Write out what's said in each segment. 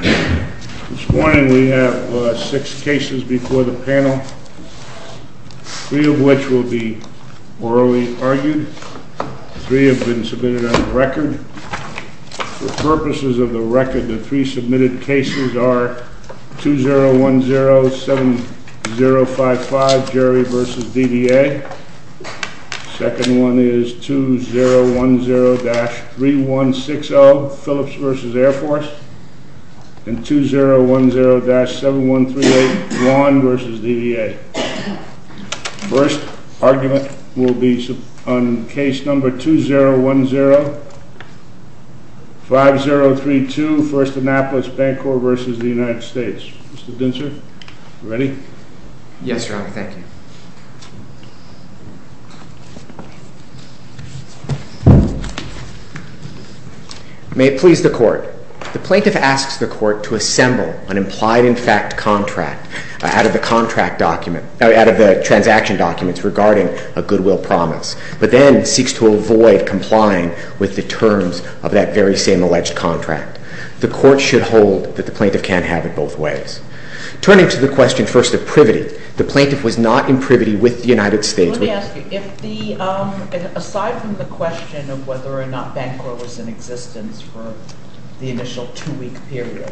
This morning we have six cases before the panel, three of which will be orally argued. Three have been submitted on record. For purposes of the record, the three submitted cases are 20107055, Jerry v. DDA. The second one is 20103060, Phillips v. Air Force. And 201071381 v. DDA. The first argument will be on case number 20105032, FIRST ANNAPOLIS BANCORP v. United States. Mr. Dinser, are you ready? Yes, Your Honor. Thank you. May it please the Court. The plaintiff asks the Court to assemble an implied-in-fact contract out of the transaction documents regarding a goodwill promise, but then seeks to avoid complying with the terms of that very same alleged contract. The Court should hold that the plaintiff can't have it both ways. Turning to the question, first, of privity, the plaintiff was not in privity with the United States. Let me ask you, aside from the question of whether or not Bancorp was in existence for the initial two-week period,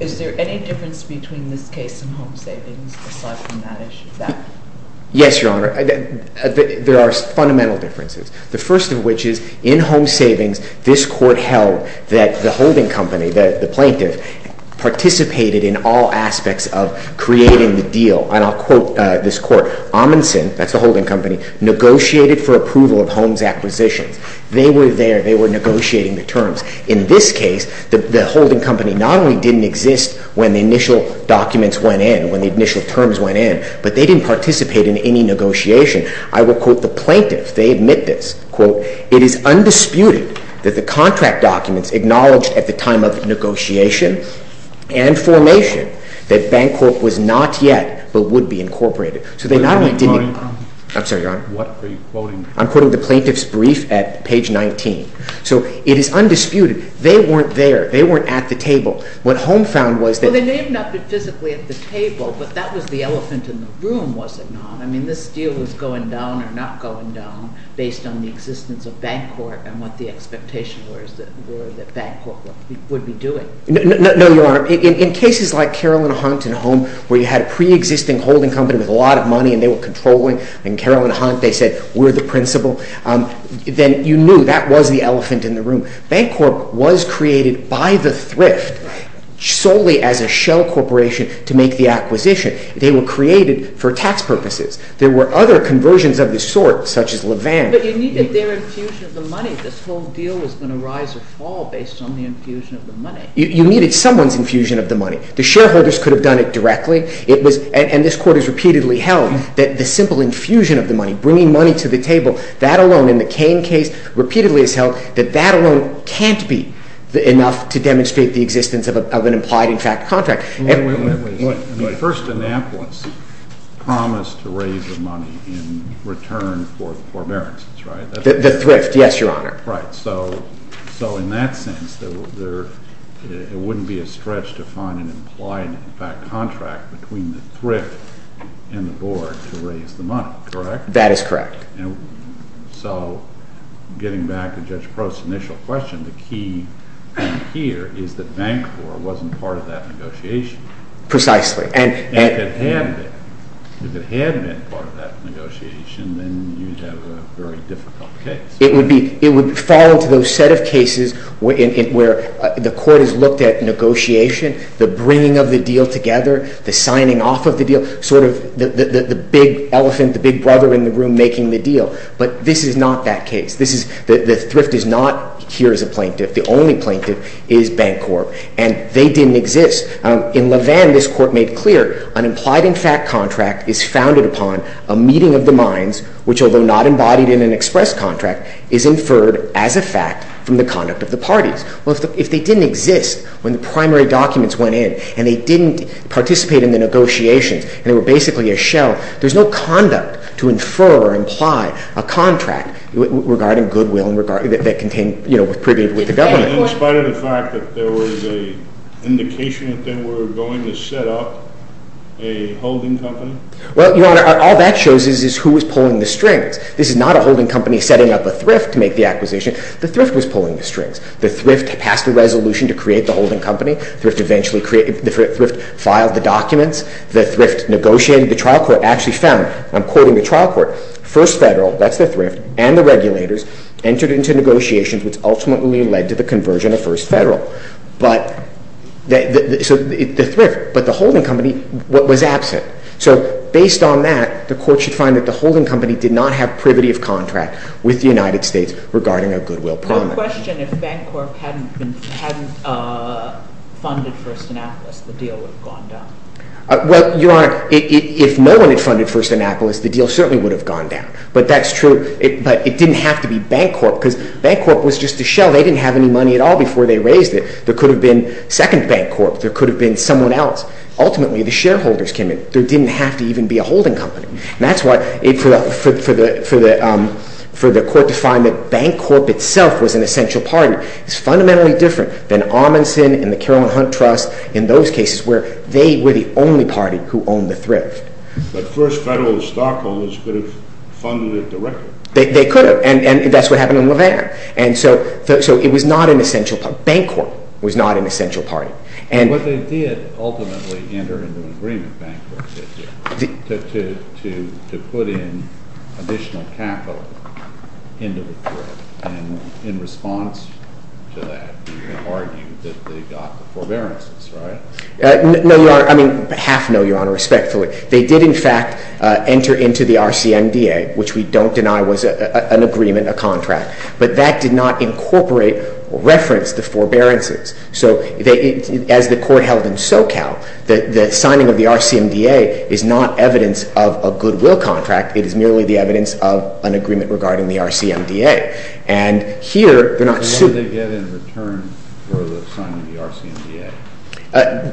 is there any difference between this case and home savings aside from that issue? Yes, Your Honor. There are fundamental differences. The first of which is, in home savings, this Court held that the holding company, the plaintiff, participated in all aspects of creating the deal. And I'll quote this Court. Amundsen, that's the holding company, negotiated for approval of homes acquisitions. They were there. They were negotiating the terms. In this case, the holding company not only didn't exist when the initial documents went in, when the initial terms went in, but they didn't participate in any negotiation. I will quote the plaintiff. They admit this. Quote, it is undisputed that the contract documents acknowledged at the time of negotiation and formation that Bancorp was not yet but would be incorporated. I'm sorry, Your Honor. What are you quoting? I'm quoting the plaintiff's brief at page 19. So it is undisputed. They weren't there. They weren't at the table. What home found was that... Well, they may have not been physically at the table, but that was the elephant in the room, was it not? I mean, this deal was going down or not going down based on the existence of Bancorp and what the expectations were that Bancorp would be doing. No, Your Honor. In cases like Carolyn Hunt and Home, where you had a pre-existing holding company with a lot of money and they were controlling, and Carolyn Hunt, they said, we're the principal, then you knew that was the elephant in the room. Bancorp was created by the thrift solely as a shell corporation to make the acquisition. They were created for tax purposes. There were other conversions of this sort, such as Levan. But you needed their infusion of the money. This whole deal was going to rise or fall based on the infusion of the money. You needed someone's infusion of the money. The shareholders could have done it directly, and this Court has repeatedly held that the simple infusion of the money, bringing money to the table, that alone in the Cain case repeatedly has held that that alone can't be enough to demonstrate the existence of an implied in fact contract. Wait, wait, wait. The First Annapolis promised to raise the money in return for the forbearances, right? The thrift, yes, Your Honor. Right. So in that sense, it wouldn't be a stretch to find an implied in fact contract between the thrift and the board to raise the money, correct? That is correct. So getting back to Judge Prost's initial question, the key here is that Bancorp wasn't part of that negotiation. Precisely. If it had been part of that negotiation, then you'd have a very difficult case. It would fall into those set of cases where the Court has looked at negotiation, the bringing of the deal together, the signing off of the deal, sort of the big elephant, the big brother in the room making the deal. But this is not that case. The thrift is not here as a plaintiff. The only plaintiff is Bancorp, and they didn't exist. In Levin, this Court made clear, an implied in fact contract is founded upon a meeting of the minds, which although not embodied in an express contract, is inferred as a fact from the conduct of the parties. Well, if they didn't exist when the primary documents went in and they didn't participate in the negotiations and they were basically a shell, there's no conduct to infer or imply a contract regarding goodwill that contained, you know, with the government. In spite of the fact that there was an indication that they were going to set up a holding company? Well, Your Honor, all that shows is who was pulling the strings. This is not a holding company setting up a thrift to make the acquisition. The thrift was pulling the strings. The thrift passed a resolution to create the holding company. The thrift filed the documents. The thrift negotiated. The trial court actually found, and I'm quoting the trial court, first federal, that's the thrift, and the regulators entered into negotiations which ultimately led to the conversion of first federal. So the thrift, but the holding company was absent. So based on that, the Court should find that the holding company did not have privity of contract with the United States regarding a goodwill promise. I have a question. If Bancorp hadn't funded First Annapolis, the deal would have gone down. Well, Your Honor, if no one had funded First Annapolis, the deal certainly would have gone down, but that's true. But it didn't have to be Bancorp because Bancorp was just a shell. They didn't have any money at all before they raised it. There could have been second Bancorp. There could have been someone else. Ultimately, the shareholders came in. There didn't have to even be a holding company, and that's why for the Court to find that Bancorp itself was an essential party is fundamentally different than Amundsen and the Caroline Hunt Trust in those cases where they were the only party who owned the thrift. But First Federal stockholders could have funded it directly. They could have, and that's what happened in Levin. And so it was not an essential party. Bancorp was not an essential party. But they did ultimately enter into an agreement, Bancorp did, to put in additional capital into the Thrift, and in response to that, you can argue that they got the forbearances, right? No, Your Honor. I mean, half no, Your Honor, respectfully. They did, in fact, enter into the RCMDA, which we don't deny was an agreement, a contract, but that did not incorporate or reference the forbearances. So as the Court held in SoCal, the signing of the RCMDA is not evidence of a goodwill contract. It is merely the evidence of an agreement regarding the RCMDA. And here they're not sued. How did they get in return for the signing of the RCMDA?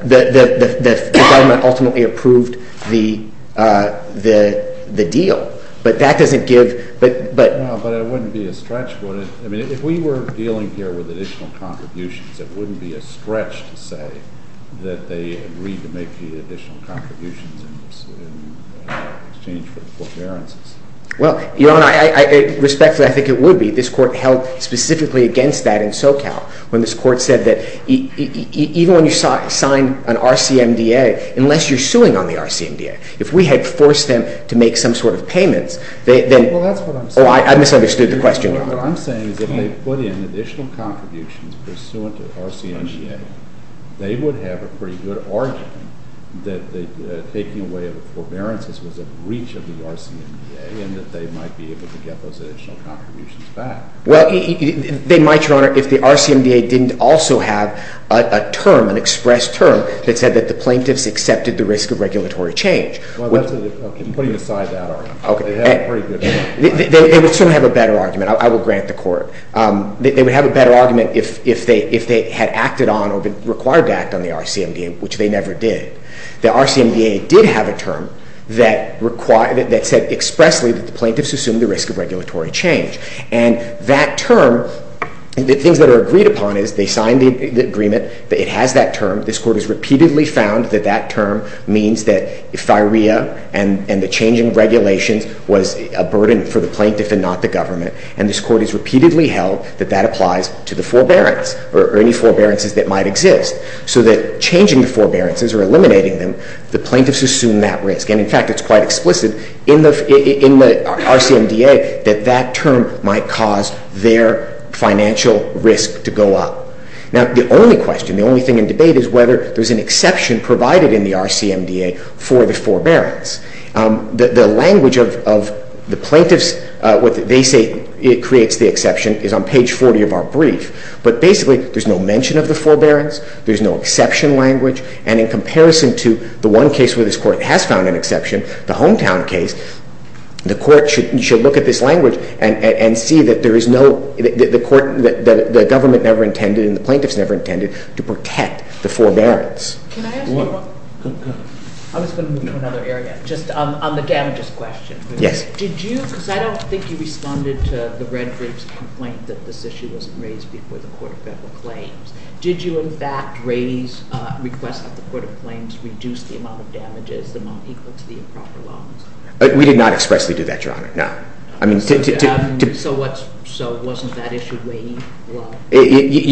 The government ultimately approved the deal. But that doesn't give— No, but it wouldn't be a stretch, would it? I mean, if we were dealing here with additional contributions, it wouldn't be a stretch to say that they agreed to make the additional contributions in exchange for the forbearances. Well, Your Honor, respectfully, I think it would be. This Court held specifically against that in SoCal, when this Court said that even when you sign an RCMDA, unless you're suing on the RCMDA, if we had forced them to make some sort of payments, then— Well, that's what I'm saying. Oh, I misunderstood the question, Your Honor. What I'm saying is that if they put in additional contributions pursuant to the RCMDA, they would have a pretty good argument that taking away the forbearances was a breach of the RCMDA and that they might be able to get those additional contributions back. Well, they might, Your Honor, if the RCMDA didn't also have a term, an expressed term, that said that the plaintiffs accepted the risk of regulatory change. Well, I'm putting aside that argument. Okay. They would still have a better argument. I will grant the Court. They would have a better argument if they had acted on or been required to act on the RCMDA, which they never did. The RCMDA did have a term that said expressly that the plaintiffs assumed the risk of regulatory change. And that term, the things that are agreed upon is they signed the agreement that it has that term. This Court has repeatedly found that that term means that if FIREA and the changing regulations was a burden for the plaintiff and not the government, and this Court has repeatedly held that that applies to the forbearance or any forbearances that might exist, so that changing the forbearances or eliminating them, the plaintiffs assume that risk. And, in fact, it's quite explicit in the RCMDA that that term might cause their financial risk to go up. Now, the only question, the only thing in debate, is whether there's an exception provided in the RCMDA for the forbearance. The language of the plaintiffs, what they say creates the exception, is on page 40 of our brief. But, basically, there's no mention of the forbearance, there's no exception language, and in comparison to the one case where this Court has found an exception, the Hometown case, the Court should look at this language and see that the government never intended and the plaintiffs never intended to protect the forbearance. I was going to move to another area, just on the damages question. Yes. Did you, because I don't think you responded to the Red Group's complaint that this issue wasn't raised before the Court of Federal Claims, did you, in fact, raise requests that the Court of Claims reduce the amount of damages, the amount equal to the improper loans? We did not expressly do that, Your Honor, no. So wasn't that issue weighed?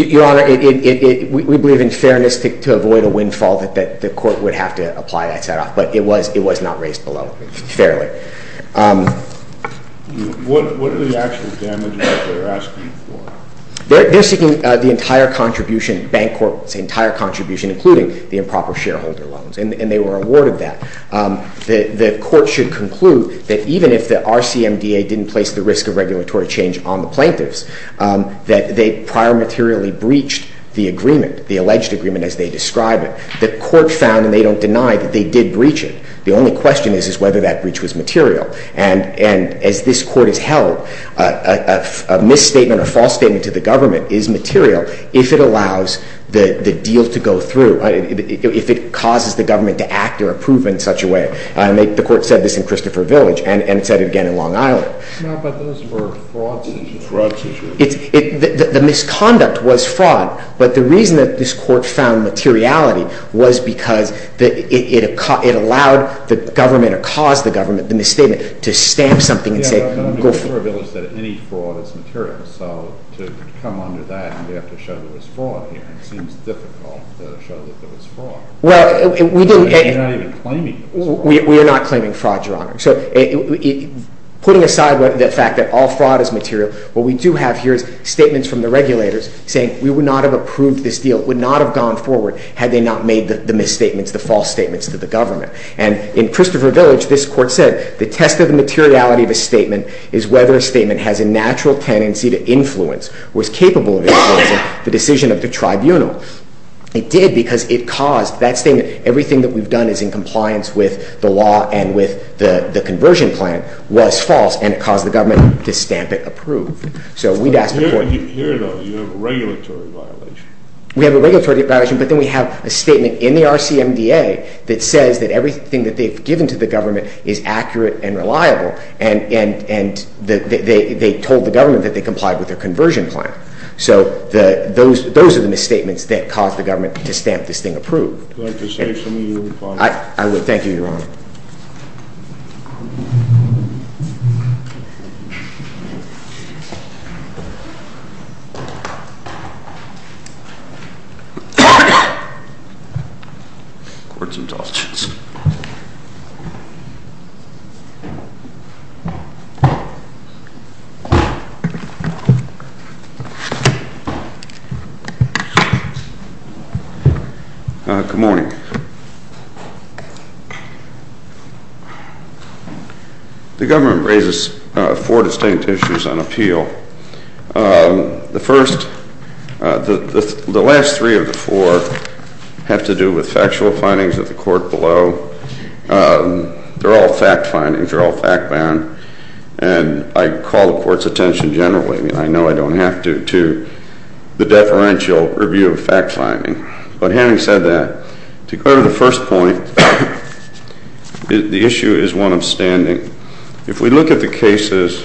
Your Honor, we believe in fairness to avoid a windfall that the Court would have to apply that set-off, but it was not raised below, fairly. What are the actual damages that they're asking for? They're seeking the entire contribution, the Bank Court's entire contribution, including the improper shareholder loans, and they were awarded that. The Court should conclude that even if the RCMDA didn't place the risk of regulatory change on the plaintiffs, that they prior materially breached the agreement, the alleged agreement as they describe it, the Court found, and they don't deny, that they did breach it. The only question is whether that breach was material. And as this Court has held, a misstatement or false statement to the government is material if it allows the deal to go through, if it causes the government to act or approve in such a way. The Court said this in Christopher Village and said it again in Long Island. No, but those were fraud situations. Fraud situations. The misconduct was fraud, but the reason that this Court found materiality was because it allowed the government or caused the government, the misstatement, to stamp something and say, go for it. Yeah, but under Christopher Village, that any fraud is material. So to come under that, and we have to show that there was fraud here, it seems difficult to show that there was fraud. Well, we didn't... You're not even claiming there was fraud. We are not claiming fraud, Your Honor. So putting aside the fact that all fraud is material, what we do have here is statements from the regulators saying we would not have approved this deal, would not have gone forward had they not made the misstatements, the false statements to the government. And in Christopher Village, this Court said the test of the materiality of a statement is whether a statement has a natural tendency to influence or is capable of influencing the decision of the tribunal. It did because it caused that statement. Everything that we've done is in compliance with the law and with the conversion plan was false, and it caused the government to stamp it approved. So we'd ask the Court... When you hear those, you have a regulatory violation. We have a regulatory violation, but then we have a statement in the RCMDA that says that everything that they've given to the government is accurate and reliable, and they told the government that they complied with their conversion plan. So those are the misstatements that caused the government to stamp this thing approved. Would you like to say something, Your Honor? I would. Thank you, Your Honor. Court's indulgence. Good morning. The government raises four distinct issues on appeal. The first... The last three of the four have to do with factual findings of the Court below. They're all fact findings. They're all fact-bound. And I call the Court's attention generally, and I know I don't have to, to the deferential review of fact finding. But having said that, to go to the first point, the issue is one of standing. If we look at the cases,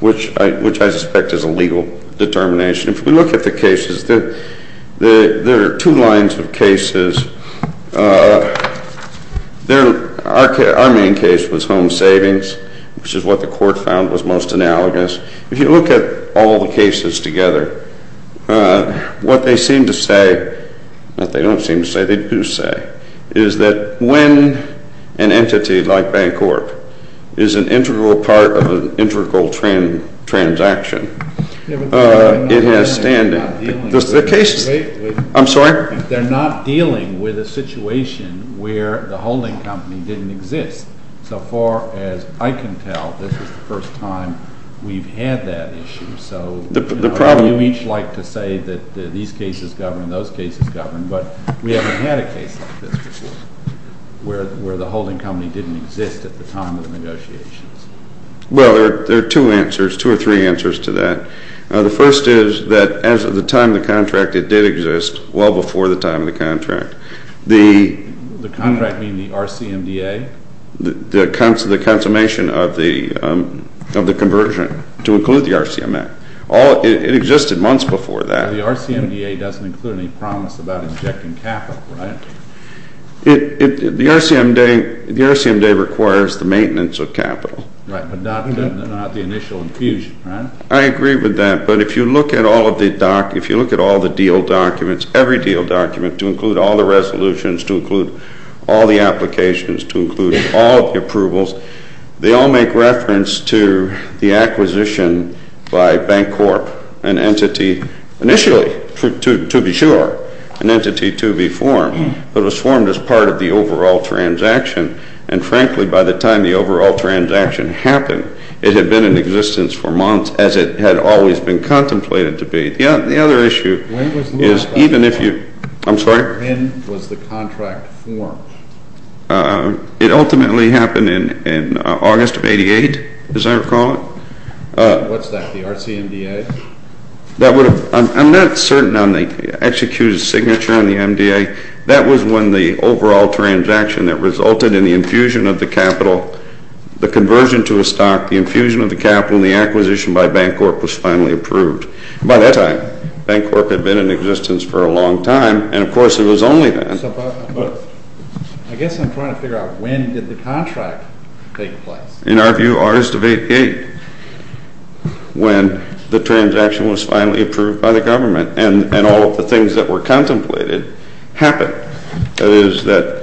which I suspect is a legal determination, if we look at the cases, there are two lines of cases. Our main case was home savings, which is what the Court found was most analogous. If you look at all the cases together, what they seem to say... Not they don't seem to say, they do say, is that when an entity like Bancorp is an integral part of an integral transaction, it has standing. I'm sorry? They're not dealing with a situation where the holding company didn't exist. So far as I can tell, this is the first time we've had that issue. So you each like to say that these cases govern, those cases govern, but we haven't had a case like this before, where the holding company didn't exist at the time of the negotiations. Well, there are two answers, two or three answers to that. The first is that as of the time of the contract, it did exist well before the time of the contract. The contract being the RCMDA? The consummation of the conversion to include the RCMMA. It existed months before that. The RCMDA doesn't include any promise about injecting capital, right? The RCMDA requires the maintenance of capital. Right, but not the initial infusion, right? I agree with that, but if you look at all of the deal documents, every deal document, to include all the resolutions, to include all the applications, to include all the approvals, they all make reference to the acquisition by Bancorp, an entity initially, to be sure, an entity to be formed, but it was formed as part of the overall transaction, and frankly, by the time the overall transaction happened, it had been in existence for months as it had always been contemplated to be. The other issue is even if you... I'm sorry? When was the contract formed? It ultimately happened in August of 88, as I recall it. What's that, the RCMDA? I'm not certain on the executed signature on the MDA. That was when the overall transaction that resulted in the infusion of the capital, the conversion to a stock, the infusion of the capital, and the acquisition by Bancorp was finally approved. By that time, Bancorp had been in existence for a long time, and of course it was only then. I guess I'm trying to figure out when did the contract take place? In our view, August of 88, when the transaction was finally approved by the government, and all of the things that were contemplated happened. That is, that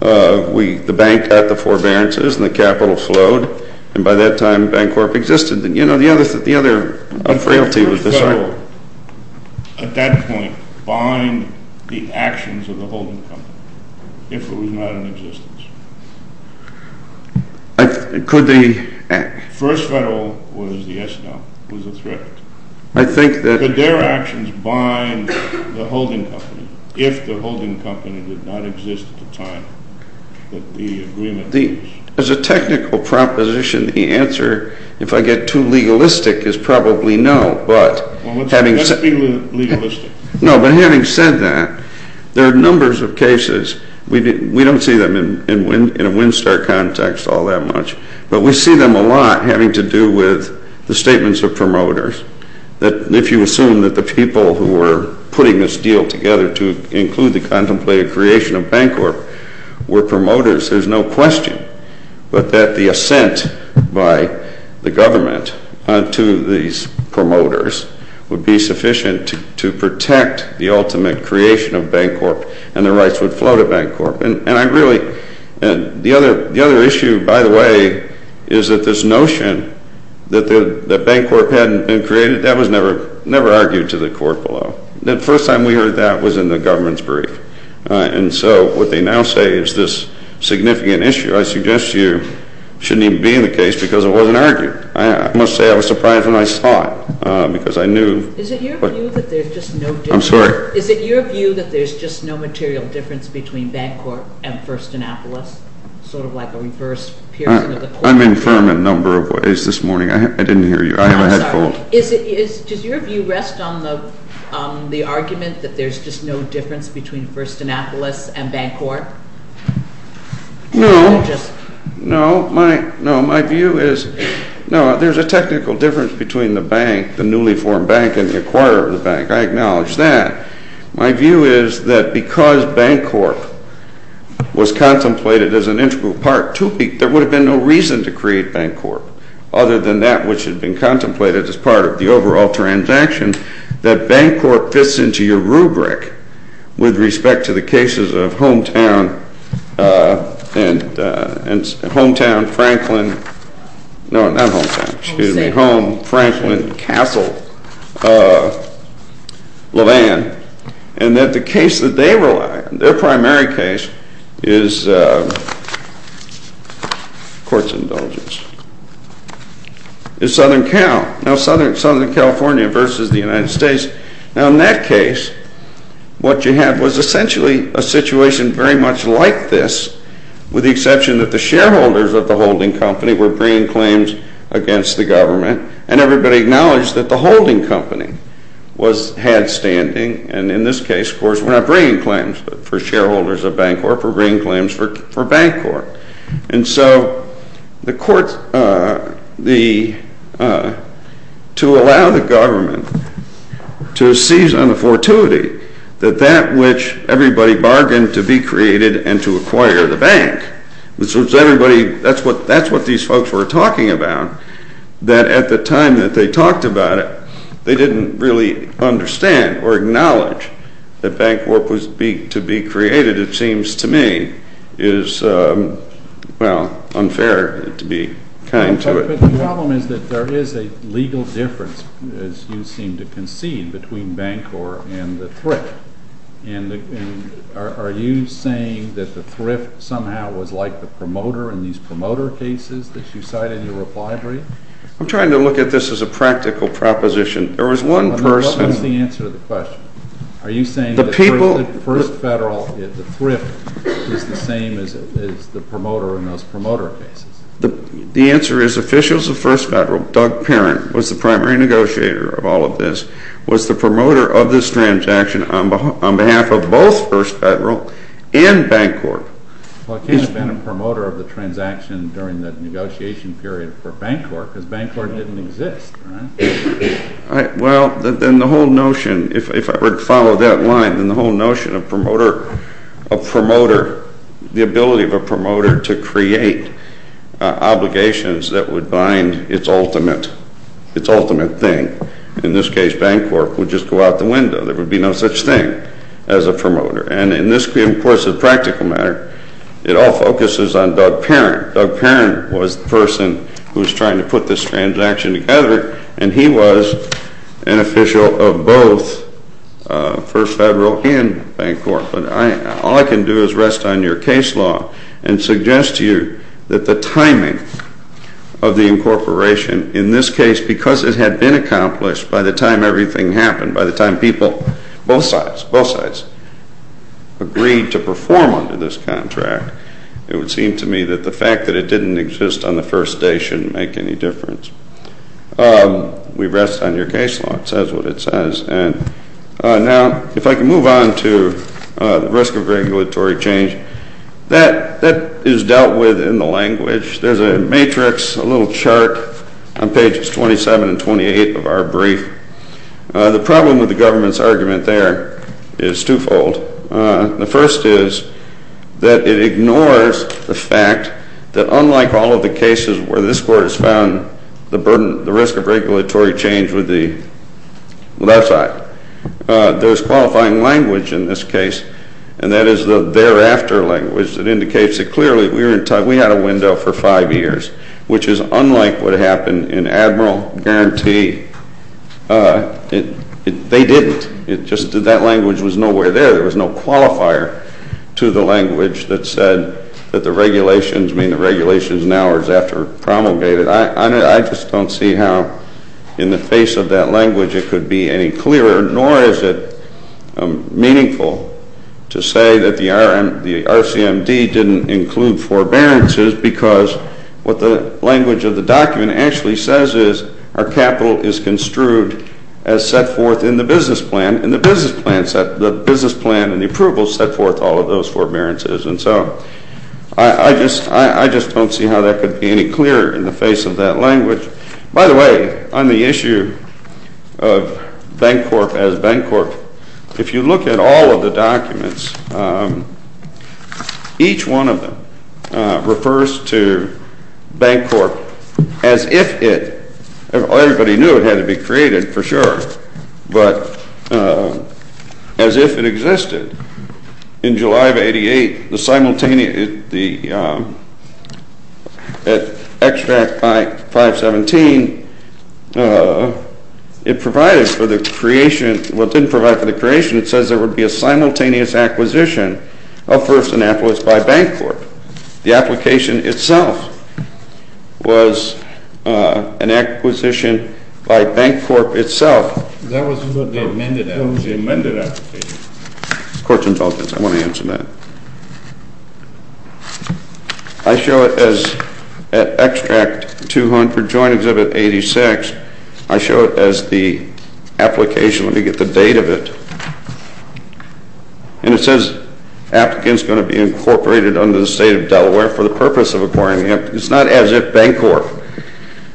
the bank had the forbearances, and the capital flowed, and by that time, Bancorp existed. You know, the other frailty was this... At that point, bind the actions of the holding company if it was not in existence. Could the... First Federal was a threat. I think that... Could their actions bind the holding company if the holding company did not exist at the time that the agreement was... As a technical proposition, the answer, if I get too legalistic, is probably no, but... Well, let's be legalistic. No, but having said that, there are numbers of cases, we don't see them in a WinStar context all that much, but we see them a lot having to do with the statements of promoters, that if you assume that the people who were putting this deal together to include the contemplated creation of Bancorp were promoters, there's no question that the assent by the government to these promoters would be sufficient to protect the ultimate creation of Bancorp, and the rights would flow to Bancorp. And I really... The other issue, by the way, is that this notion that Bancorp hadn't been created, that was never argued to the court below. The first time we heard that was in the government's brief. And so what they now say is this significant issue. I suggest you shouldn't even be in the case because it wasn't argued. I must say I was surprised when I saw it because I knew... Is it your view that there's just no... I'm sorry? Is it your view that there's just no material difference between Bancorp and First Annapolis? Sort of like a reverse piercing of the coin? I'm infirm in a number of ways this morning. I didn't hear you. I have a head fold. I'm sorry. Does your view rest on the argument that there's just no difference between First Annapolis and Bancorp? No. No, my view is... No, there's a technical difference between the bank, the newly formed bank, and the acquirer of the bank. I acknowledge that. My view is that because Bancorp was contemplated as an integral part, there would have been no reason to create Bancorp other than that which had been contemplated as part of the overall transaction that Bancorp fits into your rubric with respect to the cases of Hometown... Hometown, Franklin... No, not Hometown, excuse me. Home, Franklin, Castle. Levan. And that the case that they rely on, their primary case, is... Court's indulgence. ...is Southern Cal. Now, Southern California versus the United States. Now, in that case, what you had was essentially a situation very much like this with the exception that the shareholders of the holding company were bringing claims against the government, and everybody acknowledged that the holding company was...had standing, and in this case, of course, were not bringing claims for shareholders of Bancorp, were bringing claims for Bancorp. And so the court... the... to allow the government to seize on the fortuity, that that which everybody bargained to be created and to acquire the bank, which was everybody... that's what these folks were talking about, that at the time that they talked about it, they didn't really understand or acknowledge that Bancorp was to be created, it seems to me, is, well, unfair to be kind to it. But the problem is that there is a legal difference, as you seem to concede, between Bancorp and the thrift. And are you saying that the thrift somehow was like the promoter in these promoter cases that you cite in your reply brief? I'm trying to look at this as a practical proposition. There was one person... What's the answer to the question? Are you saying that... The people... First Federal, the thrift, is the same as the promoter in those promoter cases? The answer is officials of First Federal, Doug Parent was the primary negotiator of all of this, was the promoter of this transaction on behalf of both First Federal and Bancorp. Well, it can't have been a promoter of the transaction during the negotiation period for Bancorp, because Bancorp didn't exist, right? Right. Well, then the whole notion... If I were to follow that line, then the whole notion of promoter... of promoter... the ability of a promoter to create obligations that would bind its ultimate... its ultimate thing, in this case, Bancorp, would just go out the window. There would be no such thing as a promoter. And in this, of course, a practical matter, it all focuses on Doug Parent. Doug Parent was the person who was trying to put this transaction together, and he was an official of both First Federal and Bancorp. But all I can do is rest on your case law and suggest to you that the timing of the incorporation, in this case, because it had been accomplished by the time everything happened, by the time people... both sides, both sides... agreed to perform under this contract, it would seem to me that the fact that it didn't exist on the first day shouldn't make any difference. We rest on your case law. It says what it says. And now, if I can move on to the risk of regulatory change, that is dealt with in the language. There's a matrix, a little chart, on pages 27 and 28 of our brief. The problem with the government's argument there is twofold. The first is that it ignores the fact that unlike all of the cases where this Court has found the risk of regulatory change with the left side, there's qualifying language in this case, and that is the thereafter language that indicates that clearly we had a window for five years, which is unlike what happened in Admiral Guarantee. They didn't. That language was nowhere there. There was no qualifier to the language that said that the regulations, I mean the regulations now are after promulgated. I just don't see how in the face of that language it could be any clearer, nor is it meaningful to say that the RCMD didn't include forbearances because what the language of the document actually says is our capital is construed as set forth in the business plan, and the business plan and the approvals set forth all of those forbearances and so on. I just don't see how that could be any clearer in the face of that language. By the way, on the issue of Bancorp as Bancorp, if you look at all of the documents, each one of them refers to Bancorp as if it, everybody knew it had to be created for sure, but as if it existed. In July of 88, the simultaneous, the extract 517, it provided for the creation, well it didn't provide for the creation, it says there would be a simultaneous acquisition of First Annapolis by Bancorp. The application itself was an acquisition by Bancorp itself. That was the amended application. Court's indulgence, I want to answer that. I show it as, at extract 200, joint exhibit 86, I show it as the application, let me get the date of it, and it says applicants going to be incorporated under the state of Delaware for the purpose of acquiring, it's not as if Bancorp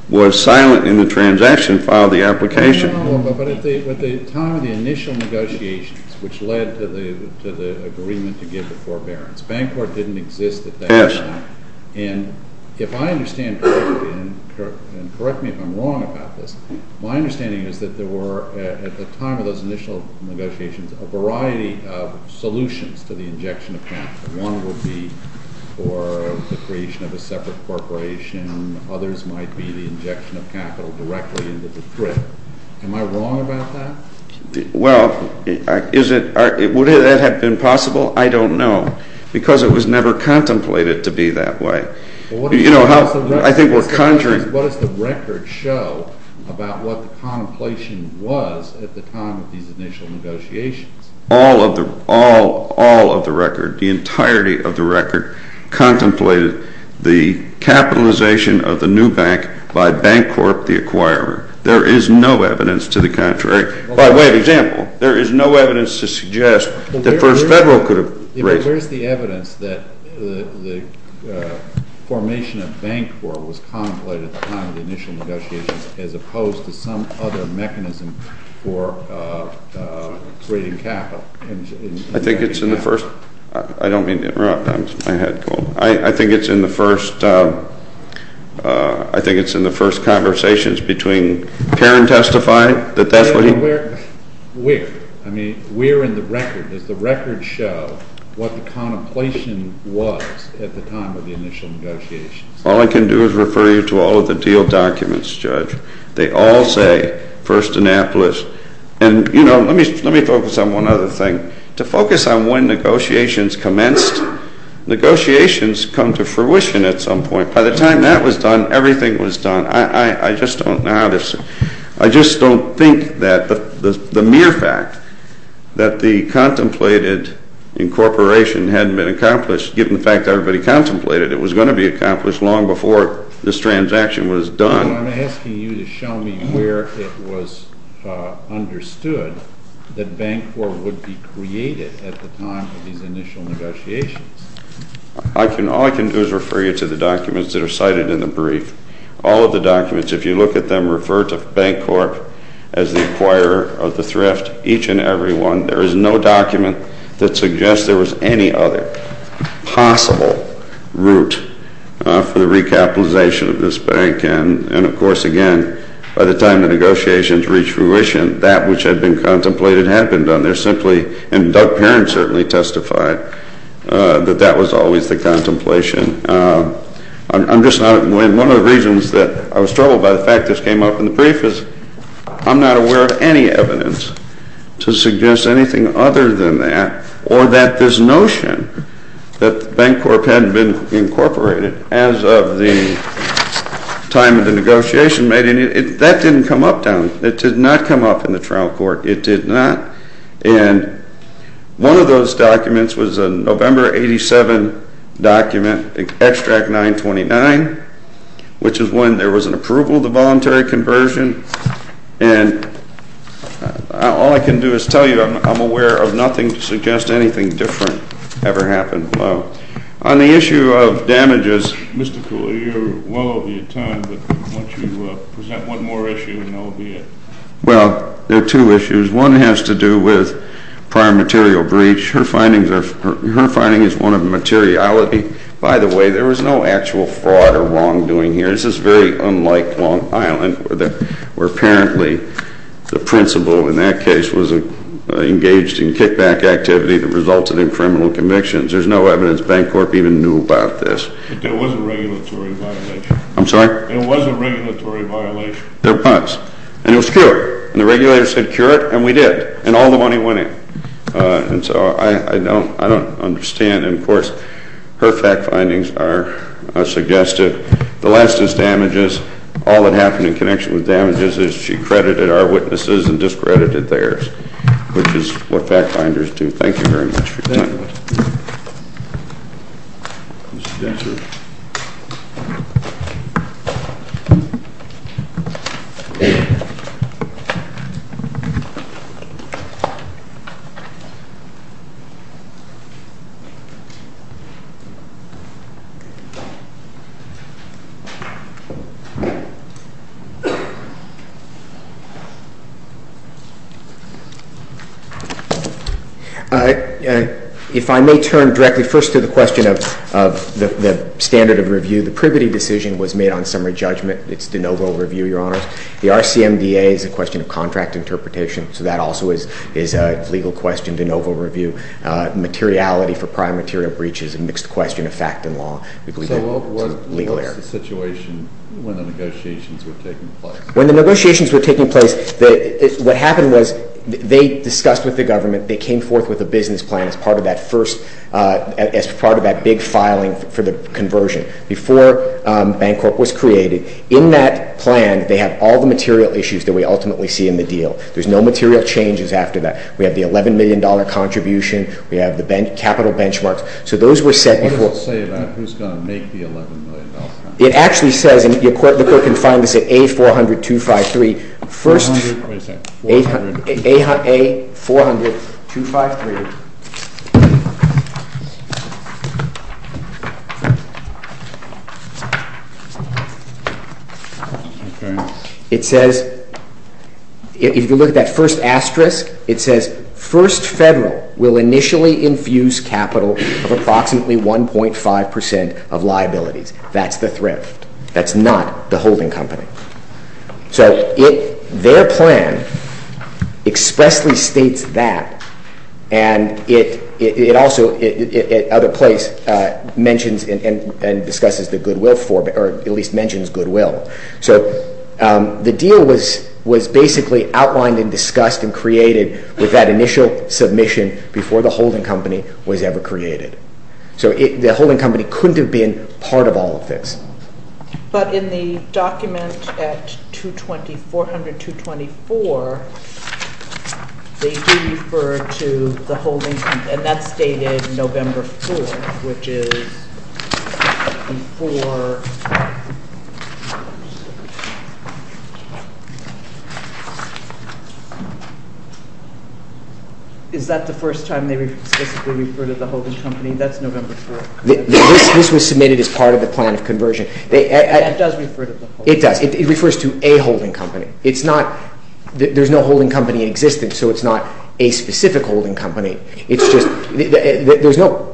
was silent in the transaction and filed the application. No, no, no, but at the time of the initial negotiations, which led to the agreement to give the forbearance, Bancorp didn't exist at that time. Yes. And if I understand correctly, and correct me if I'm wrong about this, my understanding is that there were, at the time of those a variety of solutions to the injection of capital. One would be for the creation of a separate corporation, others might be the injection of capital directly into the thrift. Am I wrong about that? Well, is it, would that have been possible? I don't know because it was never contemplated to be that way. You know how, I think we're conjuring. What does the record show about what the contemplation was at the time of these initial negotiations? All of the, all, all of the record, the entirety of the record contemplated the capitalization of the new bank by Bancorp the acquirer. There is no evidence to the contrary. By way of example, there is no evidence to suggest that First Federal could have raised it. But where is the evidence that the formation of Bancorp was contemplated at the time of the initial negotiations as opposed to some other mechanism for creating capital? I think it's in the first, I don't mean to interrupt. I had a cold. I think it's in the first, I think it's in the first conversations between Perrin testifying that that's what he... Where? Where? I mean, where in the record, does the record show what the contemplation was at the time of the initial negotiations? All I can do is refer you to all of the deal documents, Judge. They all say First Annapolis. And, you know, let me focus on one other thing. To focus on when negotiations commenced, negotiations come to fruition at some point. By the time that was done, everything was done. I just don't know how this... I just don't think that the mere fact that the contemplated incorporation hadn't been accomplished given the fact that everybody contemplated it was going to be accomplished long before this transaction was done. I'm asking you to show me where it was understood that Bancorp would be created at the time of these initial negotiations. All I can do is refer you to the documents that are cited in the brief. All of the documents, if you look at them, refer to Bancorp as the acquirer of the thrift. Each and every one. There is no document that suggests there was any other possible route for the recapitalization of this bank. And, of course, again, by the time the negotiations reached fruition, that which had been contemplated had been done. There simply... And Doug Perrin certainly testified that that was always the contemplation. I'm just not... One of the reasons that I was troubled by the fact this came up in the brief is I'm not aware of any evidence to suggest anything other than that or that this notion that Bancorp hadn't been incorporated as of the time of the negotiation made any... That didn't come up down... It did not come up in the trial court. It did not. And one of those documents was a November 87 document, Extract 929, which is when there was an approval of the voluntary conversion. And all I can do is tell you I'm aware of nothing to suggest anything different ever happened below. On the issue of damages... Mr. Cooley, you're well over your time, but why don't you present one more issue and that will be it. Well, there are two issues. One has to do with prior material breach. Her findings are... Her finding is one of materiality. By the way, there was no actual fraud or wrongdoing here. This is very unlike Long Island where apparently the principal in that case was engaged in kickback activity that resulted in criminal convictions. There's no evidence Bancorp even knew about this. But there was a regulatory violation. I'm sorry? There was a regulatory violation. There was. And it was cured. And the regulators said cure it and we did. And all the money went in. And so I don't... I don't understand. And of course her fact findings are suggested. The last is damages. All that happened in connection with damages is she credited our witnesses and discredited theirs. Which is what fact finders do. Thank you very much for your time. Thank you. Mr. Spencer. If I may turn directly first to the question of the standard of review. The Pribity decision was made on summary judgment. It's de novo review, Your Honors. The RCMDA is a question of contract interpretation. So that also is a legal question, de novo review. Materiality for prior material breaches is a mixed question of fact and law. So what was the situation when the negotiations were taking place? When the negotiations were taking place what happened was they discussed with the government. They came forth with a business plan as part of that first as part of that big filing for the conversion before Bancorp was created. In that plan they have all the material issues that we ultimately see in the deal. There's no material changes after that. We have the $11 million contribution. We have the capital benchmarks. So those were set before. What does it say about who's going to make the $11 million contribution? It actually says and the Court can find this at A400253. First A400253 It says if you look at that first asterisk it says first federal will initially infuse capital of approximately 1.5 percent of liabilities. the holding company. So their plan expressly states that and it says that first federal will initially infuse capital of approximately 1.5 percent of liabilities. It also at other place mentions and discusses the goodwill form or at least mentions goodwill. So the deal was basically outlined and discussed and created with that initial submission before the holding company was ever created. So the holding company couldn't have been part of all of this. But in the document at 220 400 224 they do refer to the holding company and that's stated November 4th which is before is that the first time they specifically referred to the holding company? That's November 4th. This was submitted as part of the plan of conversion. It refers to a holding company. There's no holding company in existence so it's not a specific holding company. There's no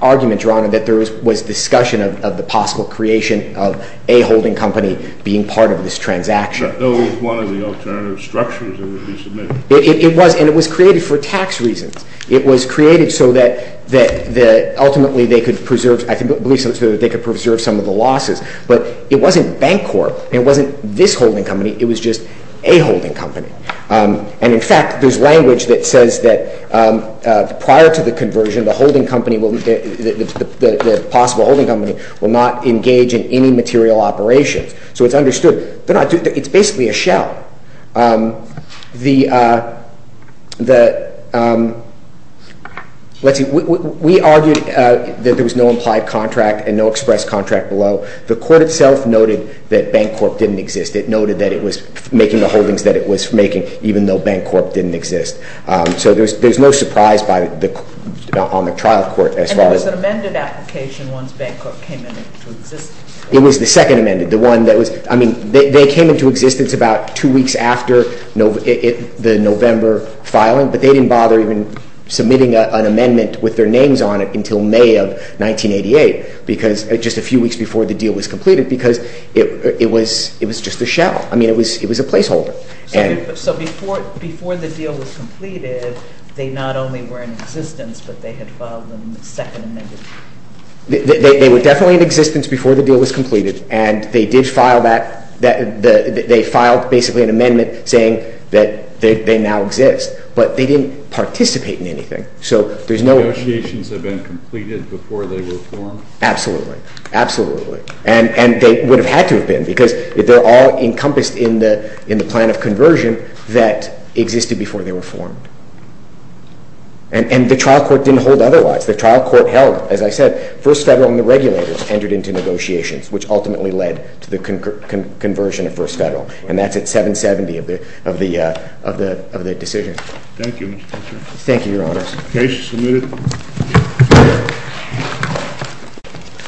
argument drawn that there was discussion of the possible creation of a holding company being part of this holding company. It was not a holding company. In fact there's language that says that prior to the conversion the possible holding company will not engage in any material operations. It's basically a shell. We argued that there was no implied contract and no express contract below. The court itself noted that bank corp didn't exist. It noted that it was making the holdings that it was making even though bank corp didn't exist. didn't exist until 1988 because just a few weeks before the deal was completed because it was just a shell. It was a place holder. So before the deal was completed they not only were in existence but they had filed a second amendment. They were definitely in existence before the deal was completed and they filed an amendment saying that they now exist but they didn't participate in anything. So negotiations have been completed before they were formed? Absolutely. And they would have had to have been because they're all encompassed in the plan of conversion that existed before they were formed. And the trial court didn't hold otherwise. The trial court held, as I said, first federal and the regulators entered into negotiations which ultimately led to the conversion of first federal. And that's at 770 of the decision. Thank you, Your Honor. Thank you, Your Honor. submitted.????????